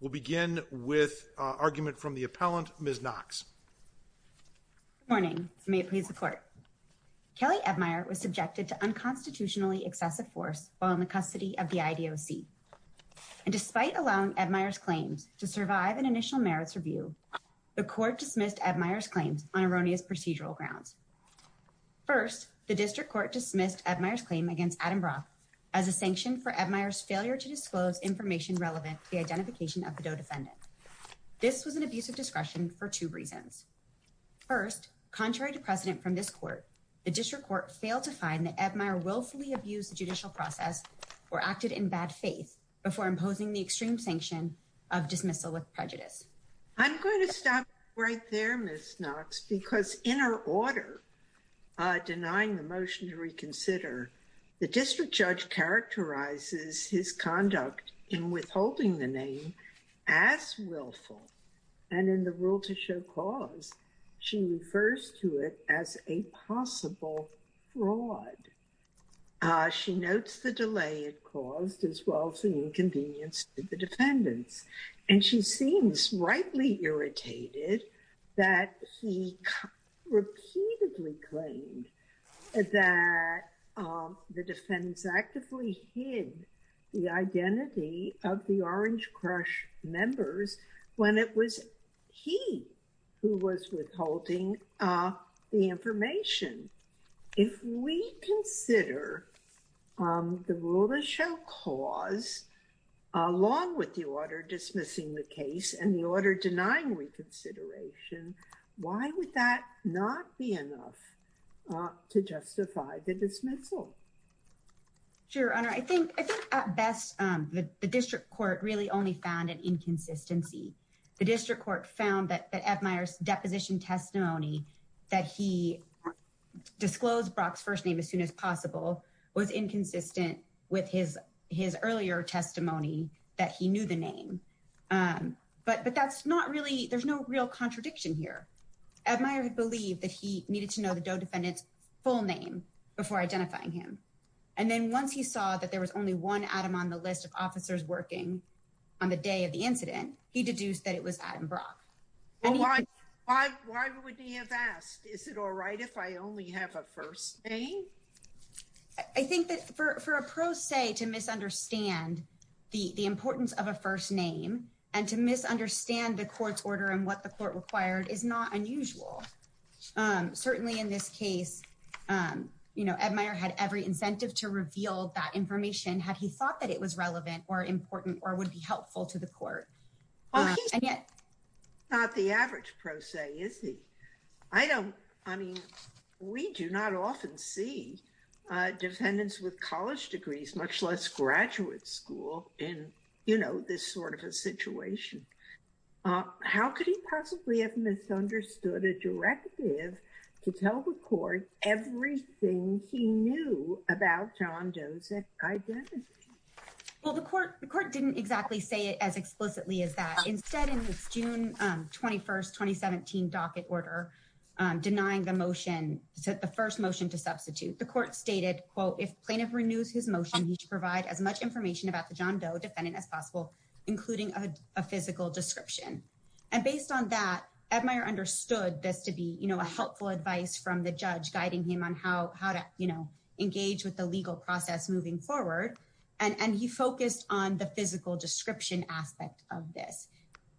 will begin with argument from the appellant, Ms. Knox. Good morning. May it please the court. Kelly Ebmeyer was subjected to unconstitutionally excessive force while in the custody of the IDOC. And despite allowing Ebmeyer's claims to serve as evidence Kelly Ebmeyer was found not guilty. In order to survive an initial merits review, the court dismissed Ebmeyer's claims on erroneous procedural grounds. First, the district court dismissed Ebmeyer's claim against Adam Brock as a sanction for Ebmeyer's failure to disclose information relevant to the identification of the DOE defendant. This was an abuse of discretion for two reasons. First, contrary to precedent from this court, the district court failed to find that Ebmeyer willfully abused the judicial process or acted in bad faith before imposing the extreme sanction of dismissal with prejudice. I'm going to stop right there, Ms. Knox, because in her order denying the motion to reconsider, the district judge characterizes his conduct in withholding the name as willful and in the rule to show cause, she refers to it as a possible fraud. She notes the delay it caused as well as the inconvenience to the defendants. And she seems rightly irritated that he repeatedly claimed that the defendants actively hid the identity of the Orange Crush members when it was he who was withholding the information. If we consider the rule to show cause along with the order dismissing the case and the order denying reconsideration, why would that not be enough to justify the dismissal? Sure, Your Honor. I think at best the district court really only found an inconsistency. The district court found that Ebmeyer's deposition testimony that he disclosed Brock's first name as soon as possible was inconsistent with his earlier testimony that he knew the name. But that's not really, there's no real contradiction here. Ebmeyer had believed that he needed to know the Doe defendant's full name before identifying him. And then once he saw that there was only one Adam on the list of officers working on the day of the incident, he deduced that it was Adam Brock. Why would he have asked? Is it all right if I only have a first name? I think that for a pro se to misunderstand the importance of a first name and to misunderstand the court's order and what the court required is not unusual. Certainly in this case, Ebmeyer had every incentive to reveal that information had he thought that it was relevant or important or would be helpful to the court. He's not the average pro se, is he? I don't, I mean, we do not often see defendants with college degrees, much less graduate school in, you know, this sort of a situation. How could he possibly have misunderstood a directive to tell the court everything he knew about John Doe's identity? Well, the court didn't exactly say it as explicitly as that. Instead, in this June 21st, 2017 docket order denying the motion the first motion to substitute, the court stated, quote, if plaintiff renews his motion, he should provide as much information about the John Doe defendant as possible including a physical description. And based on that, Ebmeyer understood this to be, you know, a helpful advice from the judge guiding him on how to, you know, engage with the legal process moving forward and he focused on the physical description aspect of this.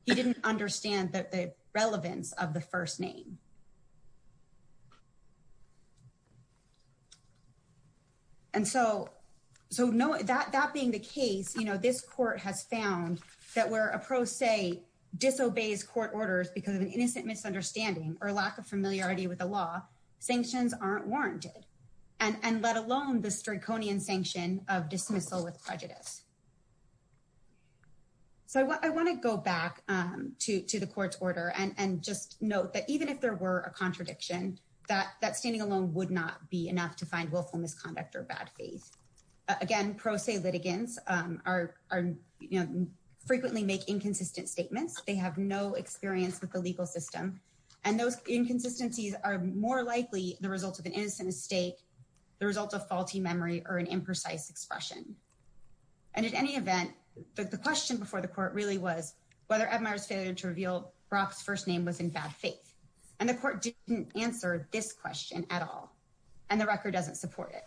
He didn't understand the relevance of the first name. And so, that being the case, you know, this court has found that where a pro se disobeys court orders because of an innocent misunderstanding or lack of familiarity with the law, sanctions aren't warranted. And let alone the straconian sanction of dismissal with prejudice. So, I want to go back to the court's order and just note that even if there were a contradiction, that standing alone would not be enough to find willful misconduct or bad faith. Again, pro se litigants frequently make inconsistent statements. They have no experience with the legal system. And those inconsistencies are more likely the result of an innocent mistake, the result of faulty memory, or an imprecise expression. And at any event, the question before the court really was whether Edmire's failure to reveal Brock's first name was in bad faith. And the court didn't answer this question at all. And the record doesn't support it.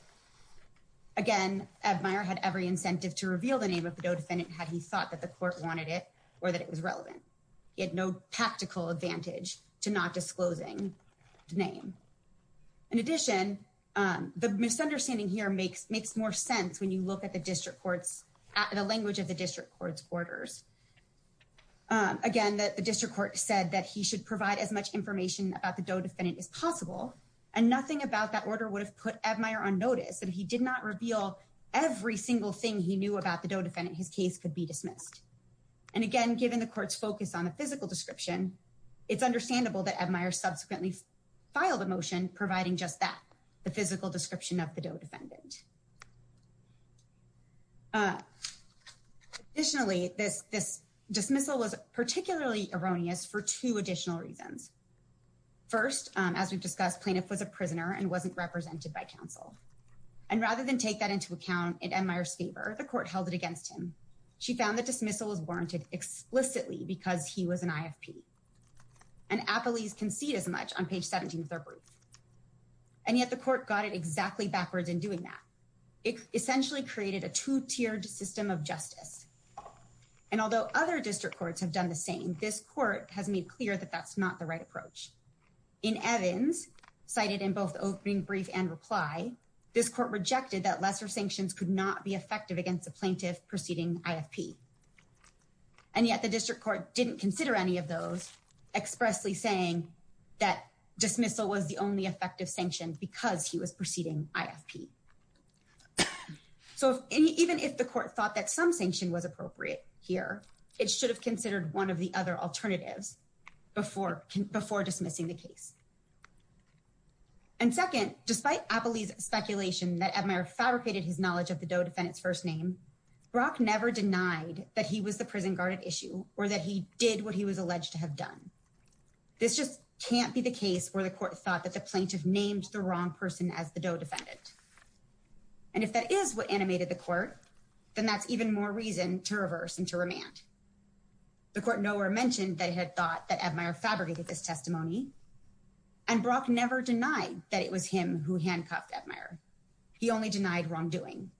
Again, Edmire had every incentive to reveal the name of the no defendant had he thought that the court wanted it or that it was relevant. He had no practical advantage to not disclosing the name. In addition, the misunderstanding here makes more sense when you look at the language of the district court's orders. Again, the district court said that he should provide as much information about the no defendant as possible. And nothing about that order would have put Edmire on notice that if he did not reveal every single thing he knew about the no defendant, his case could be dismissed. And again, given the court's focus on the physical description, it's understandable that Edmire subsequently filed a motion providing just that, the physical description of the no defendant. Additionally, this dismissal was particularly erroneous for two additional reasons. First, as we've discussed, plaintiff was a prisoner and wasn't represented by counsel. And rather than take that into account in Edmire's favor, the court held it against him. She found that dismissal was warranted explicitly because he was an IFP. And appellees concede as much on page 17 of their brief. And yet the court got it exactly backwards in doing that. It essentially created a two-tiered system of justice. And although other district courts have done the same, this court has made clear that that's not the right approach. In Evans, cited in both the opening brief and reply, this court rejected that lesser sanctions could not be effective against a plaintiff proceeding IFP. And yet the court expressedly saying that dismissal was the only effective sanction because he was proceeding IFP. So even if the court thought that some sanction was appropriate here, it should have considered one of the other alternatives before dismissing the case. And second, despite appellee's speculation that Edmire fabricated his knowledge of the defendant's first name, Brock never denied that he was the prison guard at issue or that he did what he was alleged to have done. This just can't be the case where the court thought that the plaintiff named the wrong person as the DOE defendant. And if that is what animated the court, then that's even more reason to reverse and to remand. The court nowhere mentioned that it had thought that Edmire fabricated this testimony. And Brock never denied that it was him who handcuffed Edmire. He only denied wrongdoing.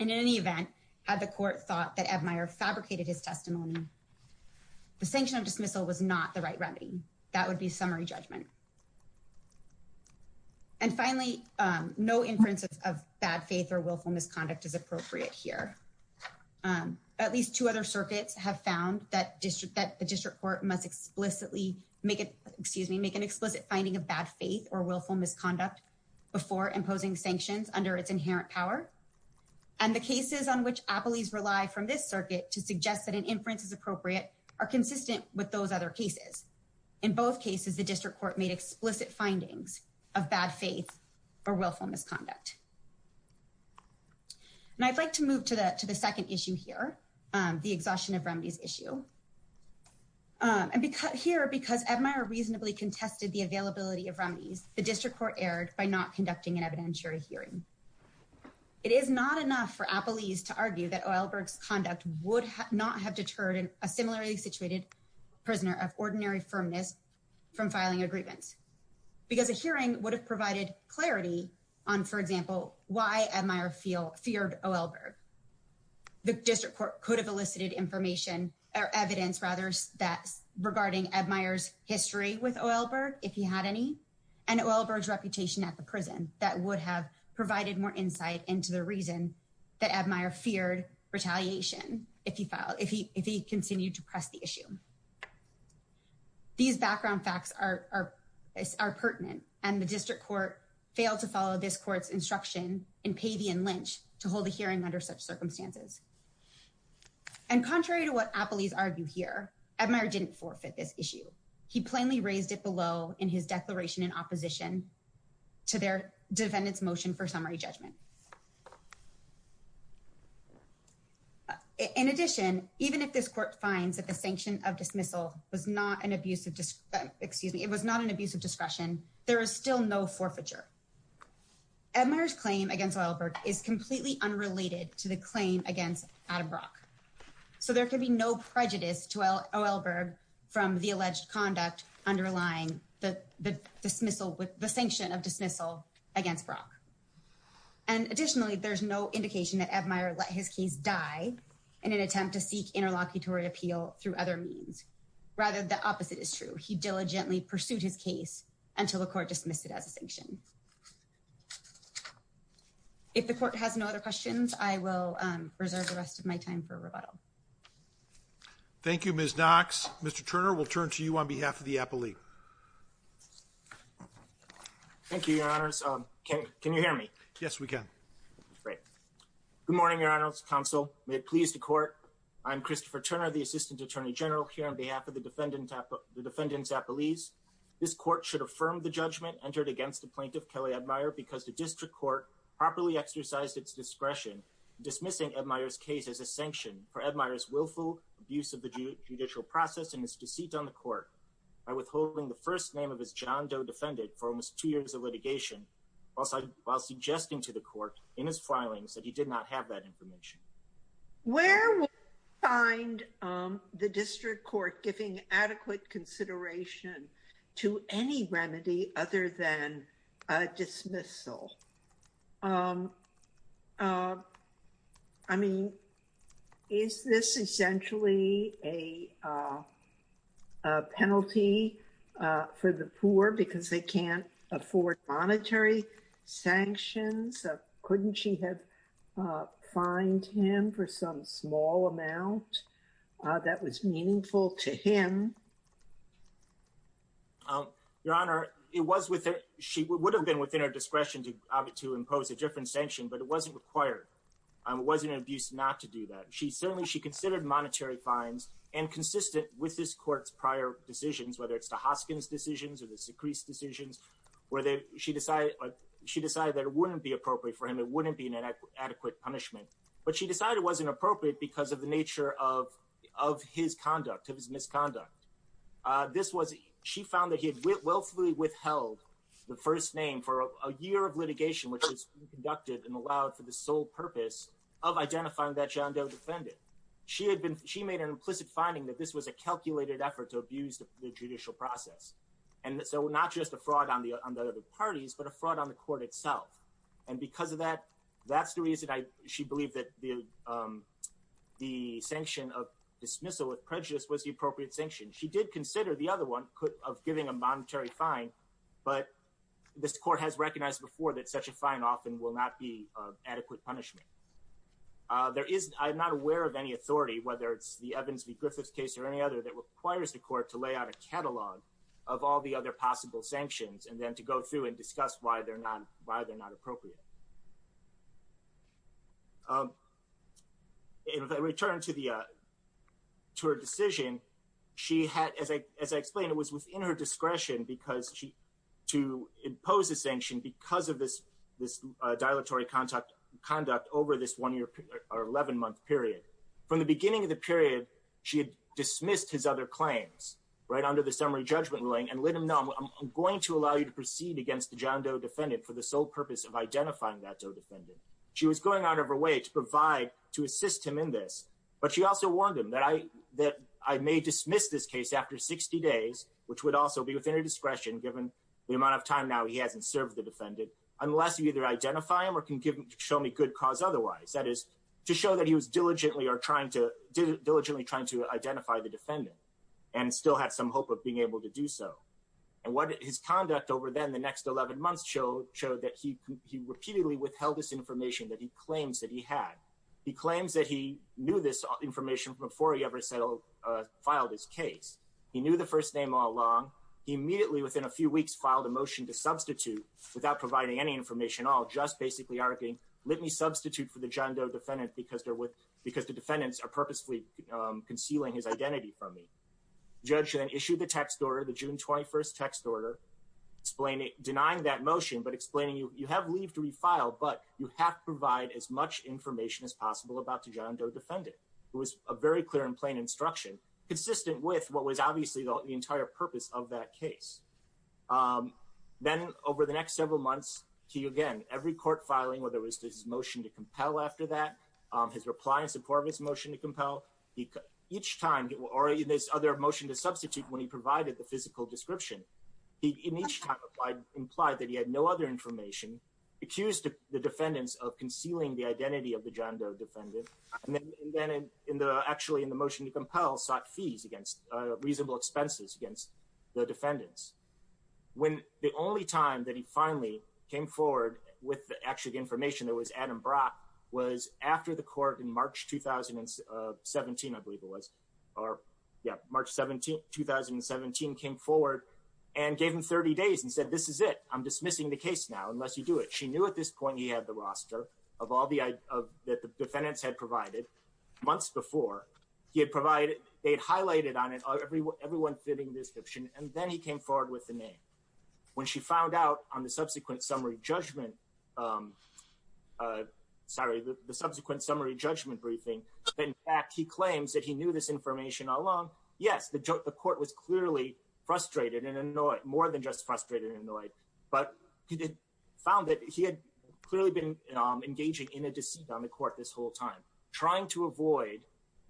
And in any event, had the court thought that Edmire fabricated his testimony, the sanction of dismissal was not the right remedy. That would be summary judgment. And finally, no inference of bad faith or willful misconduct is appropriate here. At least two other circuits have found that the district court must explicitly make an explicit finding of bad faith or willful misconduct before imposing sanctions under its inherent power. And the cases on which appellees rely from this circuit to suggest that an inference is appropriate are consistent with those other cases. In both cases, the district court made explicit findings of bad faith or willful misconduct. And I'd like to move to the second issue here, the exhaustion of remedies issue. And here, because Edmire reasonably contested the availability of remedies, the district court erred by not conducting an evidentiary hearing. It is not enough for appellees to argue that Oelberg's conduct would not have deterred a similarly situated prisoner of ordinary firmness from filing a grievance because a hearing would have provided clarity on, for example, why Edmire feared Oelberg. The district court could have elicited information or evidence, rather, regarding Edmire's history with Oelberg, if he had any, and Oelberg's conduct would have provided more insight into the reason that Edmire feared retaliation if he continued to press the issue. These background facts are pertinent, and the district court failed to follow this court's instruction in Pavey and Lynch to hold a hearing under such circumstances. And contrary to what appellees argue here, Edmire didn't forfeit this issue. He plainly raised it below in his declaration in opposition to their defendant's motion for summary judgment. In addition, even if this court finds that the sanction of dismissal was not an abusive discretion, there is still no forfeiture. Edmire's claim against Oelberg is completely unrelated to the claim against Adam Brock. So there can be no prejudice to Oelberg from the alleged conduct underlying the sanction of dismissal against Brock. And additionally, there's no indication that Edmire let his case die in an attempt to seek interlocutory appeal through other means. Rather, the opposite is true. He diligently pursued his case until the court dismissed it as a sanction. If the court has no other questions, I will reserve the rest of my time for rebuttal. Thank you, Ms. Knox. Mr. Turner, we'll start with you. Thank you, Your Honors. Can you hear me? Yes, we can. Great. Good morning, Your Honors. Counsel, may it please the court. I'm Christopher Turner, the Assistant Attorney General here on behalf of the defendant's appellees. This court should affirm the judgment entered against the plaintiff, Kelly Edmire, because the district court properly exercised its discretion dismissing Edmire's case as a sanction for Edmire's judicial process and his deceit on the court by withholding the first name of his John Doe defendant for almost two years of litigation, while suggesting to the court in his filings that he did not have that information. Where would you find the district court giving adequate consideration to any remedy other than a dismissal? I mean, is this essentially a penalty for the poor because they can't afford monetary sanctions? Couldn't she have fined him for some small amount that was meaningful to him? Your Honor, it was within her discretion to impose a different sanction, but it wasn't required. It wasn't an abuse not to do that. Certainly, she considered monetary fines and consistent with this court's prior decisions, whether it's the Hoskins decisions or the Secrees decisions, where she decided that it wouldn't be appropriate for him. It wouldn't be an adequate punishment. But she decided it wasn't appropriate because of the nature of his conduct, of his misconduct. She found that he had willfully withheld the first name for a year of litigation, which was an act that he conducted and allowed for the sole purpose of identifying that John Doe defended. She made an implicit finding that this was a calculated effort to abuse the judicial process. And so not just a fraud on the other parties, but a fraud on the court itself. And because of that, that's the reason she believed that the sanction of dismissal of prejudice was the appropriate sanction. She did consider the other one of giving a monetary fine, but this court has recognized before that such a fine often will not be adequate punishment. I'm not aware of any authority, whether it's the Evans v. Griffiths case or any other, that requires the court to lay out a catalog of all the other possible sanctions and then to go through and discuss why they're not appropriate. In return to her decision, as I explained, it was within her discretion because she wanted to impose a sanction because of this dilatory conduct over this 11-month period. From the beginning of the period, she had dismissed his other claims under the summary judgment ruling and let him know, I'm going to allow you to proceed against the John Doe defendant for the sole purpose of identifying that Doe defendant. She was going out of her way to assist him in this, but she also warned him that I may dismiss this case after 60 days, which would also be within her discretion given the amount of time now he hasn't served the defendant, unless you either identify him or can show me good cause otherwise. That is, to show that he was diligently trying to identify the defendant and still had some hope of being able to do so. His conduct over then, the next 11 months, showed that he repeatedly withheld this information that he claims that he had. He claims that he knew this information before he ever filed his case. He knew the first name all along. He immediately within a few weeks filed a motion to substitute without providing any information at all, just basically arguing, let me substitute for the John Doe defendant because the defendants are purposefully concealing his identity from me. The judge then issued the text order, the June 21st text order, denying that motion but explaining, you have leave to refile, but you have to provide as much information as possible about the John Doe defendant. It was a very clear and plain instruction, consistent with what was obviously the entire purpose of that case. Then over the next several months he again, every court filing, whether it was his motion to compel after that, his reply in support of his motion to compel, each time or in this other motion to substitute when he provided the physical description, he in each time implied that he had no other information, accused the defendants of concealing the identity of the John Doe defendant and then actually in the motion to compel sought fees against reasonable expenses against the defendants. The only time that he finally came forward with the actual information that was Adam Brock was after the court in March 2017 I believe it was, March 2017 came forward and gave him 30 days and said, this is it. I'm dismissing the case now unless you do it. She knew at this point he had the roster of all that the defendants had provided months before they had highlighted on it everyone fitting description and then he came forward with the name. When she found out on the subsequent summary judgment briefing that in fact he claims that he knew this information all along, yes, the court was clearly frustrated and annoyed, more than just frustrated and annoyed, but he found that he had clearly been engaging in a deceit on the court this whole time, trying to avoid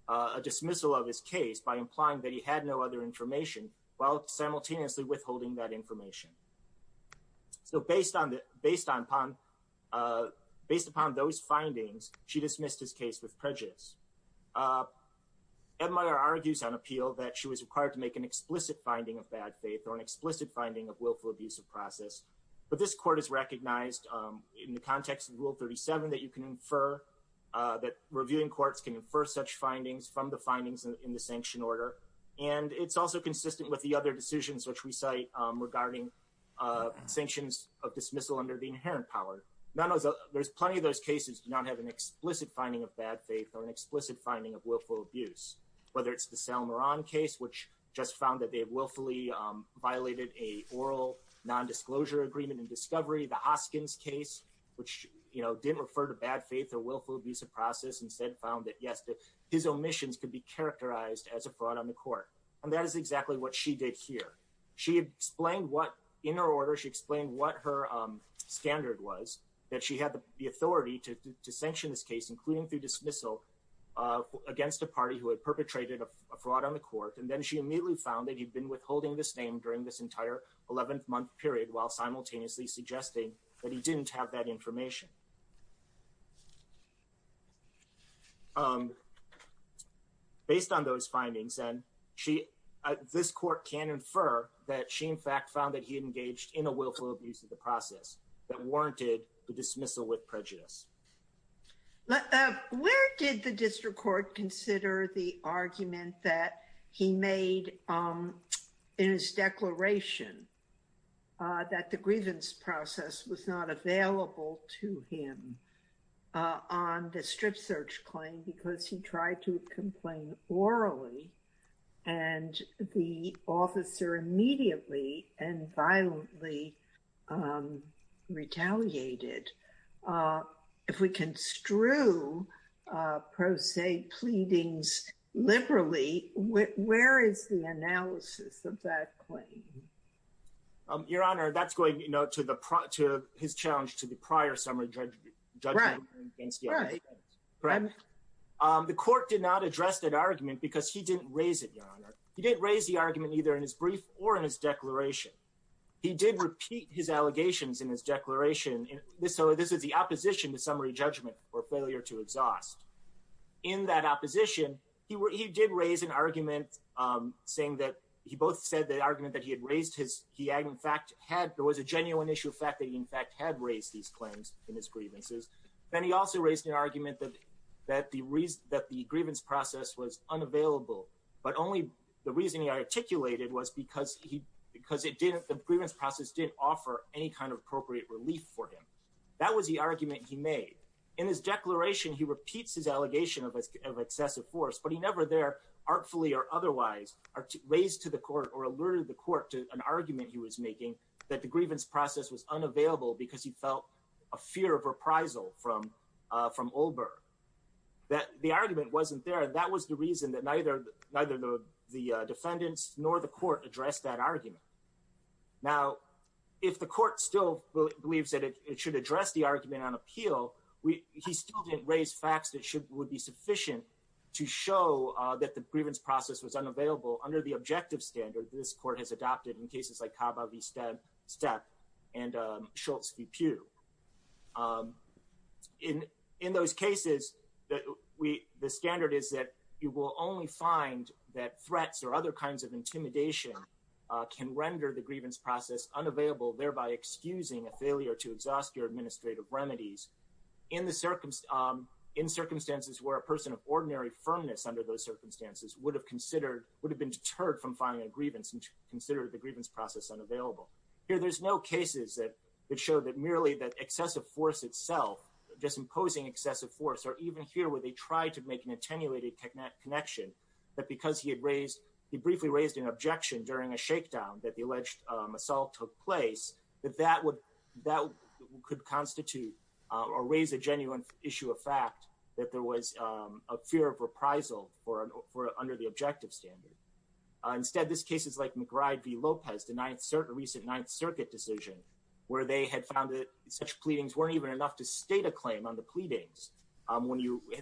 a dismissal of his case by implying that he had no other information while simultaneously withholding that information. So based on those findings, she dismissed his case with prejudice. Ed Meyer argues on appeal that she was required to make an explicit finding of bad faith or an explicit finding of willful abuse. The court is recognized in the context of rule 37 that you can infer that reviewing courts can infer such findings from the findings in the sanction order and it's also consistent with the other decisions which we cite regarding sanctions of dismissal under the inherent power. There's plenty of those cases do not have an explicit finding of bad faith or an explicit finding of willful abuse, whether it's the Sal Moran case, which just found that they abuse. She also found that the discovery of the Hoskins case, which didn't refer to bad faith or willful abuse of process, instead found that his omissions could be characterized as a fraud on the court. And that is exactly what she did here. She explained in her order, she explained what her standard was, that she had the authority to sanction this case, including through dismissal, against a party who had perpetrated a fraud on the court. And then she immediately found that he'd been withholding this name during this entire 11 month period while simultaneously suggesting that he didn't have that information. Based on those findings, this court can infer that she in fact found that he engaged in a willful abuse of the process that warranted the dismissal with prejudice. Where did the district court consider the argument that he made in his declaration that the grievance process was not available to him on the strip search claim because he tried to complain orally and the officer immediately and violently retaliated? If we construe prosaic pleadings liberally, where is the analysis of that claim? Your Honor, that's going to his challenge to the prior summary judgment. The court did not address that argument because he didn't raise it, Your Honor. He didn't raise the argument either in his brief or in his declaration. He did repeat his claim in his grievances. So this is the opposition to summary judgment or failure to exhaust. In that opposition, he did raise an argument saying that he both said the argument that he had raised his, he in fact had, there was a genuine issue of fact that he in fact had raised these claims in his grievances. Then he also raised an argument that the grievance process was unavailable, but only the reason he articulated was because the grievance process didn't offer any kind of appropriate relief for him. That was the argument he made. In his declaration, he repeats his allegation of excessive force, but he never there artfully or otherwise raised to the court or alerted the court to an argument he was making that the grievance process was unavailable because he felt a fear of reprisal from Olberg. The argument wasn't there. That was the reason that neither the defendants nor the court addressed that argument. Now, if the court still believes that it should address the argument on appeal, he still didn't raise facts that would be sufficient to show that the grievance process was unavailable under the objective standard that this court has adopted in cases like Caba v. Steppe and Schultz v. Pew. In those cases, the standard is that you will only find that threats or other kinds of intimidation can render the grievance process unavailable, thereby excusing a failure to exhaust your administrative remedies in circumstances where a person of ordinary firmness under those circumstances would have been deterred from filing a grievance and considered the grievance process unavailable. Here, there's no cases that show that merely that excessive force itself, just imposing excessive force, or even here where they tried to make an attenuated connection, that because he had briefly raised an objection during a shakedown that the alleged assault took place, that that could constitute or raise a genuine issue of fact that there was a fear of reprisal under the objective standard. Instead, this case is like McBride v. Lopez, the recent 9th Circuit decision, where they had found that such pleadings weren't even enough to state a claim on the pleadings.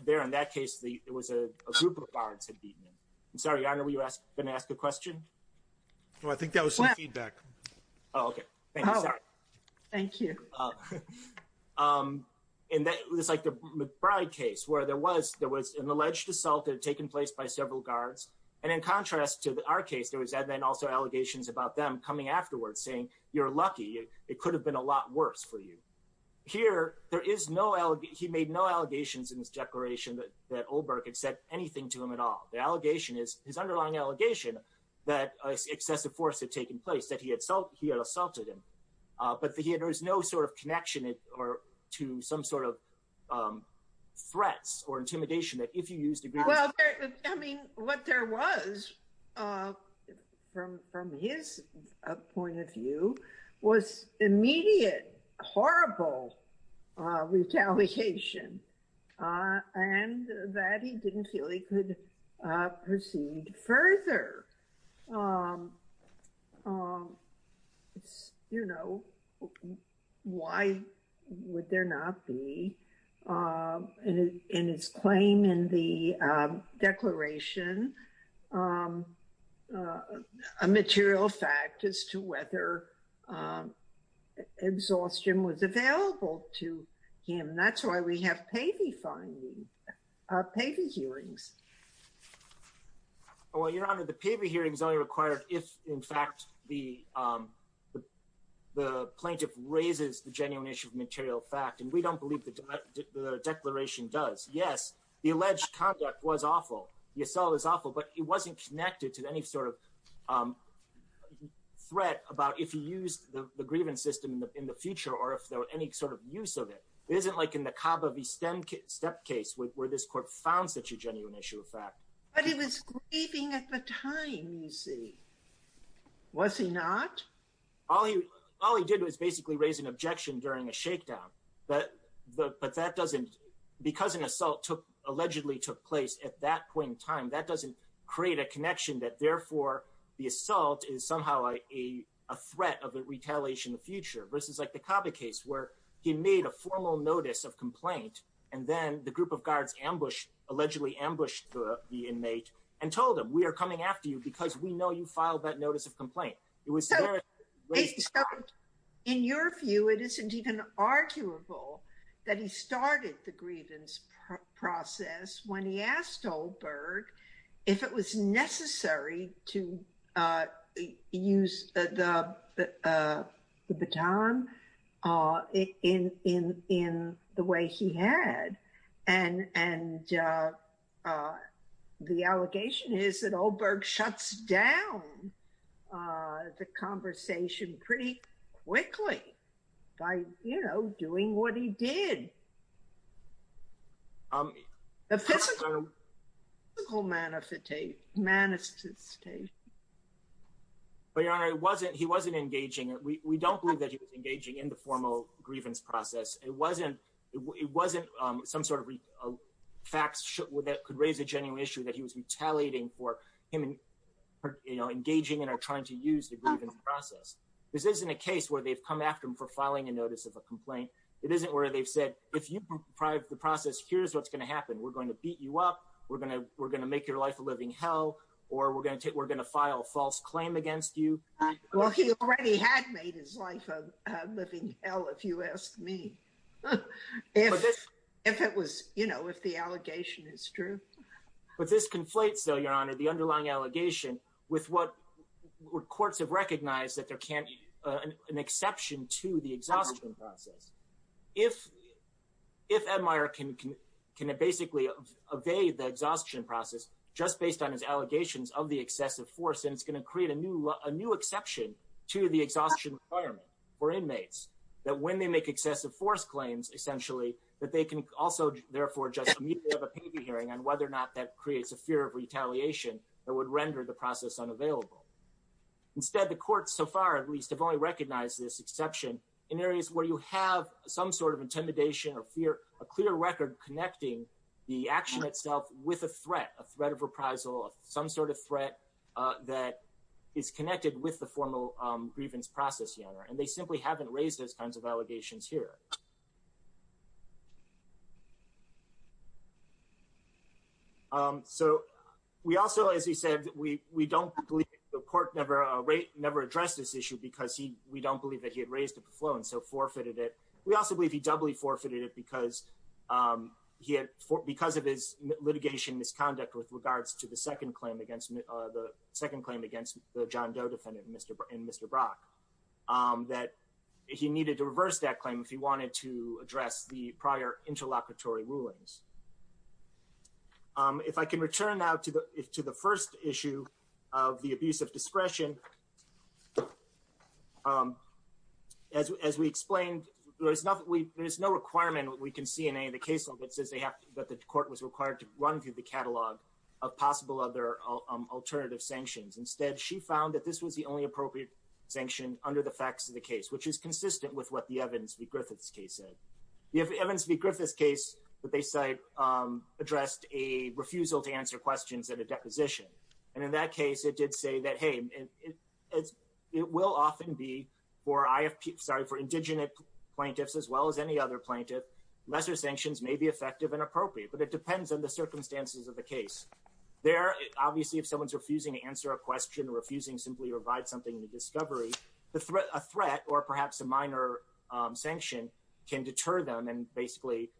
There, in that case, it was a group of guards that had beaten him. I'm sorry, Your Honor, were you going to ask a question? Well, I think that was some feedback. Oh, okay. Thank you. Thank you. It's like the McBride case, where there was an alleged assault that had taken place by several guards, and in contrast to our case, there was then also allegations about them coming afterwards, saying, you're lucky, it could have been a lot worse for you. Here, there is no, he made no allegations in his declaration that Olberg had said anything to him at all. The allegation is, his underlying allegation, that excessive force had taken place, that he had assaulted him. But there is no sort of connection to some sort of threats or intimidation that if you used a group of guards... Well, I mean, what there was from his point of view, was immediate, horrible retaliation, and that he didn't feel he could proceed further. You know, why would there not be in his claim in the declaration a material fact as to whether exhaustion was available to him? That's why we have Pavey findings, Pavey hearings. Well, Your Honor, the Pavey hearings only required if, in fact, the plaintiff raises the genuine issue of material fact, and we don't believe the declaration does. Yes, the alleged conduct was awful. The assault is awful, but it wasn't connected to any sort of threat about if he used the grievance system in the future, or if there was any sort of use of it. It isn't like in the Kaba v. Stem case, where this court found such a genuine issue of fact. But he was grieving at the time, you see. Was he not? All he did was basically raise an objection during a shakedown. But that doesn't... Because an assault allegedly took place at that point in time, that doesn't create a connection that, therefore, the assault is somehow a threat of retaliation in the future, versus like the Kaba case, where he made a formal notice of complaint, and then the group of guards allegedly ambushed the inmate and told him, we are coming after you because we know you filed that notice of complaint. In your view, it isn't even arguable that he started the grievance process when he asked Olberg if it was necessary to use the baton in the way he had. And the allegation is that Olberg shuts down the conversation pretty quickly by doing what he did. Episcopal manifestation. But, Your Honor, he wasn't engaging. We don't believe that he was engaging in the formal grievance process. It wasn't some sort of facts that could raise a genuine issue that he was retaliating for him engaging in or trying to use the grievance process. This isn't a case where they've come after him for filing a notice of a grievance. If you deprive the process, here's what's going to happen. We're going to beat you up. We're going to make your life a living hell, or we're going to file a false claim against you. Well, he already had made his life a living hell, if you ask me. If it was, you know, if the allegation is true. But this conflates, though, Your Honor, the underlying allegation with what courts have recognized that there can't be an exception to the exhaustion process. If Ed Meier can basically evade the exhaustion process, just based on his allegations of the excessive force, then it's going to create a new exception to the exhaustion requirement for inmates. That when they make excessive force claims, essentially, that they can also, therefore, just immediately have a paid hearing on whether or not that creates a fear of retaliation that would render the process unavailable. Instead, the courts, so far at least, have only recognized this exception in areas where you have some sort of intimidation or fear, a clear record connecting the action itself with a threat, a threat of reprisal, some sort of threat that is connected with the formal grievance process, Your Honor. And they simply haven't raised those kinds of allegations here. So, we also, as he said, we don't believe, the court never addressed this issue because we don't believe that he had raised it before and so forfeited it. We also believe he doubly forfeited it because he had, because of his litigation misconduct with regards to the second claim against the John Doe defendant and Mr. Brock, that he needed to reverse that claim if he wanted to address the prior interlocutory rulings. If I can return now to the first issue of the abuse of power. As we explained, there is no requirement we can see in any of the case law that says that the court was required to run through the catalog of possible other alternative sanctions. Instead, she found that this was the only appropriate sanction under the facts of the case, which is consistent with what the Evans v. Griffiths case said. The Evans v. Griffiths case that they cite addressed a refusal to answer questions at a deposition. And in that case, it did say that, hey, this is a minor sanction. It will often be for, sorry, for indigenous plaintiffs as well as any other plaintiff, lesser sanctions may be effective and appropriate, but it depends on the circumstances of the case. There, obviously, if someone's refusing to answer a question or refusing simply to provide something to discovery, a threat or perhaps a minor sanction can deter them and basically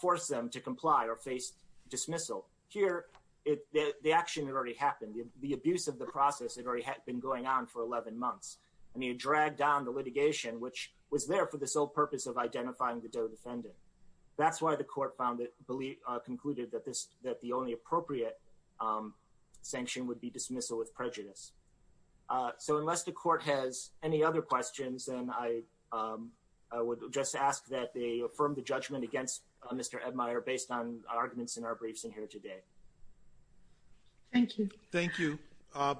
force them to comply or face dismissal. Here, the action had already happened. The abuse of the process had already been going on for 11 months. And he had dragged down the litigation, which was there for the sole purpose of identifying the DOE defendant. That's why the court concluded that the only appropriate sanction would be dismissal with prejudice. So unless the court has any other questions, then I would just ask that they affirm the judgment against Mr. Edmire based on the evidence. Thank you. Thank you.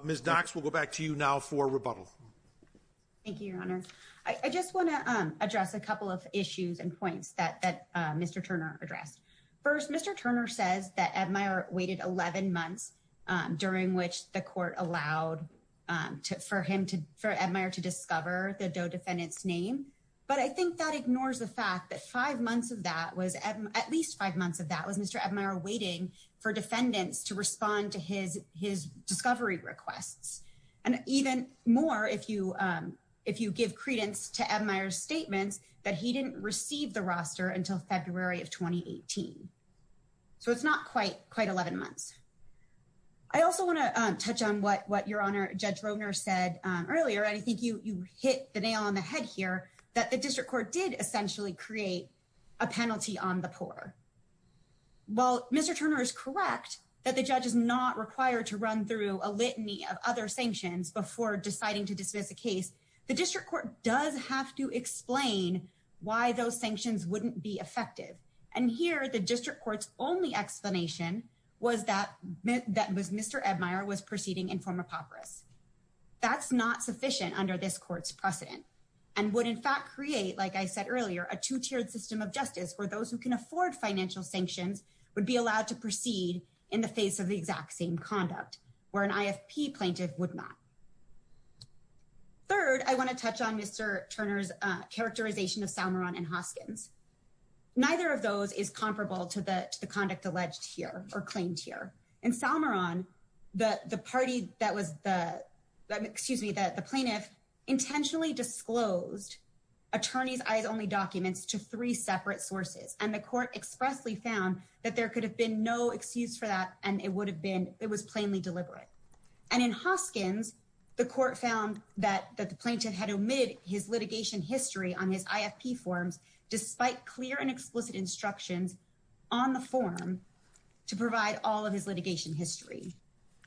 Ms. Dox, we'll go back to you now for rebuttal. Thank you, Your Honor. I just want to address a couple of issues and points that Mr. Turner addressed. First, Mr. Turner says that Edmire waited 11 months during which the court allowed for Edmire to discover the DOE defendant's name. But I think that ignores the fact that at least five months of that was Mr. Edmire waiting for defendants to respond to his discovery requests. And even more, if you give credence to Edmire's statements, that he didn't receive the roster until February of 2018. So it's not quite 11 months. I also want to touch on what Your Honor, Judge Roehner said earlier, and I think you hit the nail on the head here, that the judge is not required to run through a litany of other sanctions before deciding to dismiss a case. a litany of other sanctions before deciding to dismiss a case, the district court does have to explain why those sanctions wouldn't be effective. And here, the district court's only explanation was that Mr. Edmire was proceeding in form of papyrus. That's not sufficient under this court's precedent and would in fact create, like I said earlier, a two-tiered system of justice where those who can afford financial sanctions would be allowed to proceed in the face of the exact same conduct, where an IFP plaintiff would not. Third, I want to touch on Mr. Turner's characterization of Salmoron and Hoskins. Neither of those is comparable to the conduct alleged here, or claimed here. In Salmoron, the plaintiff intentionally disclosed attorneys' eyes-only documents to three separate sources, and the court expressly found that there could have been no excuse for that, and it was plainly deliberate. And in Hoskins, the court found that the plaintiff had omitted his litigation history on his IFP forms despite clear and explicit instructions on the form to provide all of his litigation history.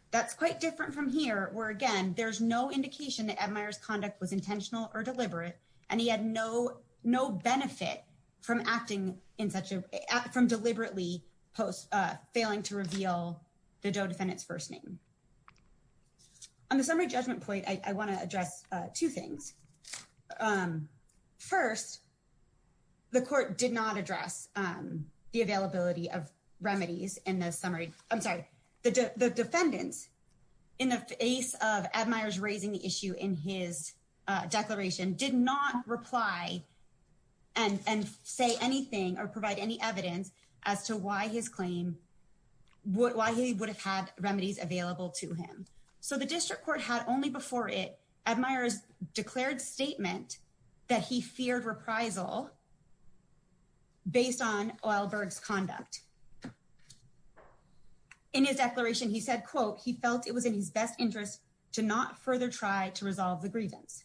That's quite different from here, where again, there's no indication that Edmire's conduct was intentional or deliberate, and he had no benefit from deliberately failing to reveal the DOE defendant's first name. On the summary judgment point, I want to address two things. First, the court did not address the availability of remedies in the summary. I'm sorry, the defendant, in the face of Edmire's raising the issue in his declaration, did not reply and say anything or provide any evidence as to why his claim, why he would have had remedies available to him. So the district court had only before it, Edmire's declared statement that he feared reprisal based on Uylberg's conduct. In his declaration, he said, quote, he felt it was in his best interest to not further try to resolve the grievance.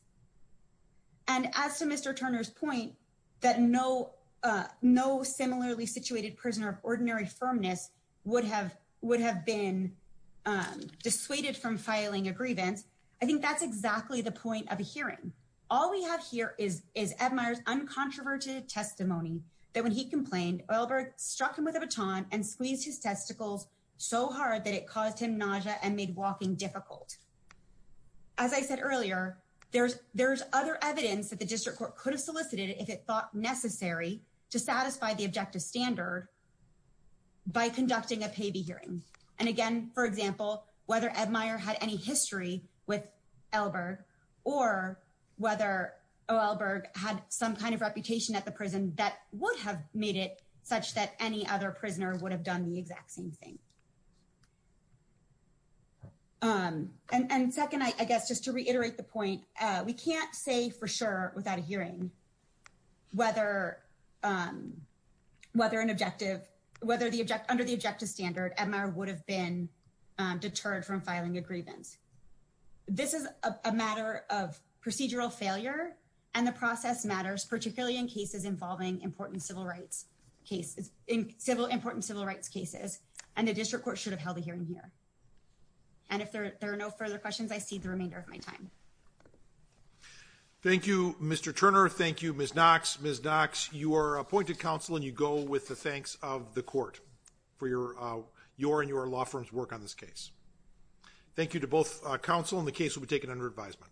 And as to Mr. Turner's point, that no similarly situated prisoner of ordinary firmness would have been dissuaded from filing a grievance, I think that's exactly the point of hearing. All we have here is Edmire's uncontroverted testimony that when he complained, Uylberg struck him with a baton and squeezed his testicles so hard that it caused him nausea and made walking difficult. As I said earlier, there's other evidence that the district court could have solicited if it thought necessary to satisfy the objective standard by conducting a payee hearing. And again, for example, whether Edmire had any history with Uylberg or whether Uylberg had some kind of reputation at the prison that would have made it such that any other prisoner would have done the exact same thing. And second, I guess just to reiterate the point, we can't say for sure without a hearing whether an objective, whether under the objective standard, Edmire would have been deterred from filing a grievance. This is a matter of procedural failure and the process matters, particularly in cases involving important civil rights cases and the district court should have held a hearing here. And if there are no further questions, I cede the remainder of my time. Thank you, Mr. Turner. Thank you, Ms. Knox. Ms. Knox, you are appointed counsel and you go with the thanks of the court for your and your law firm's work on this Thank you to both counsel and the case will be taken under advisement.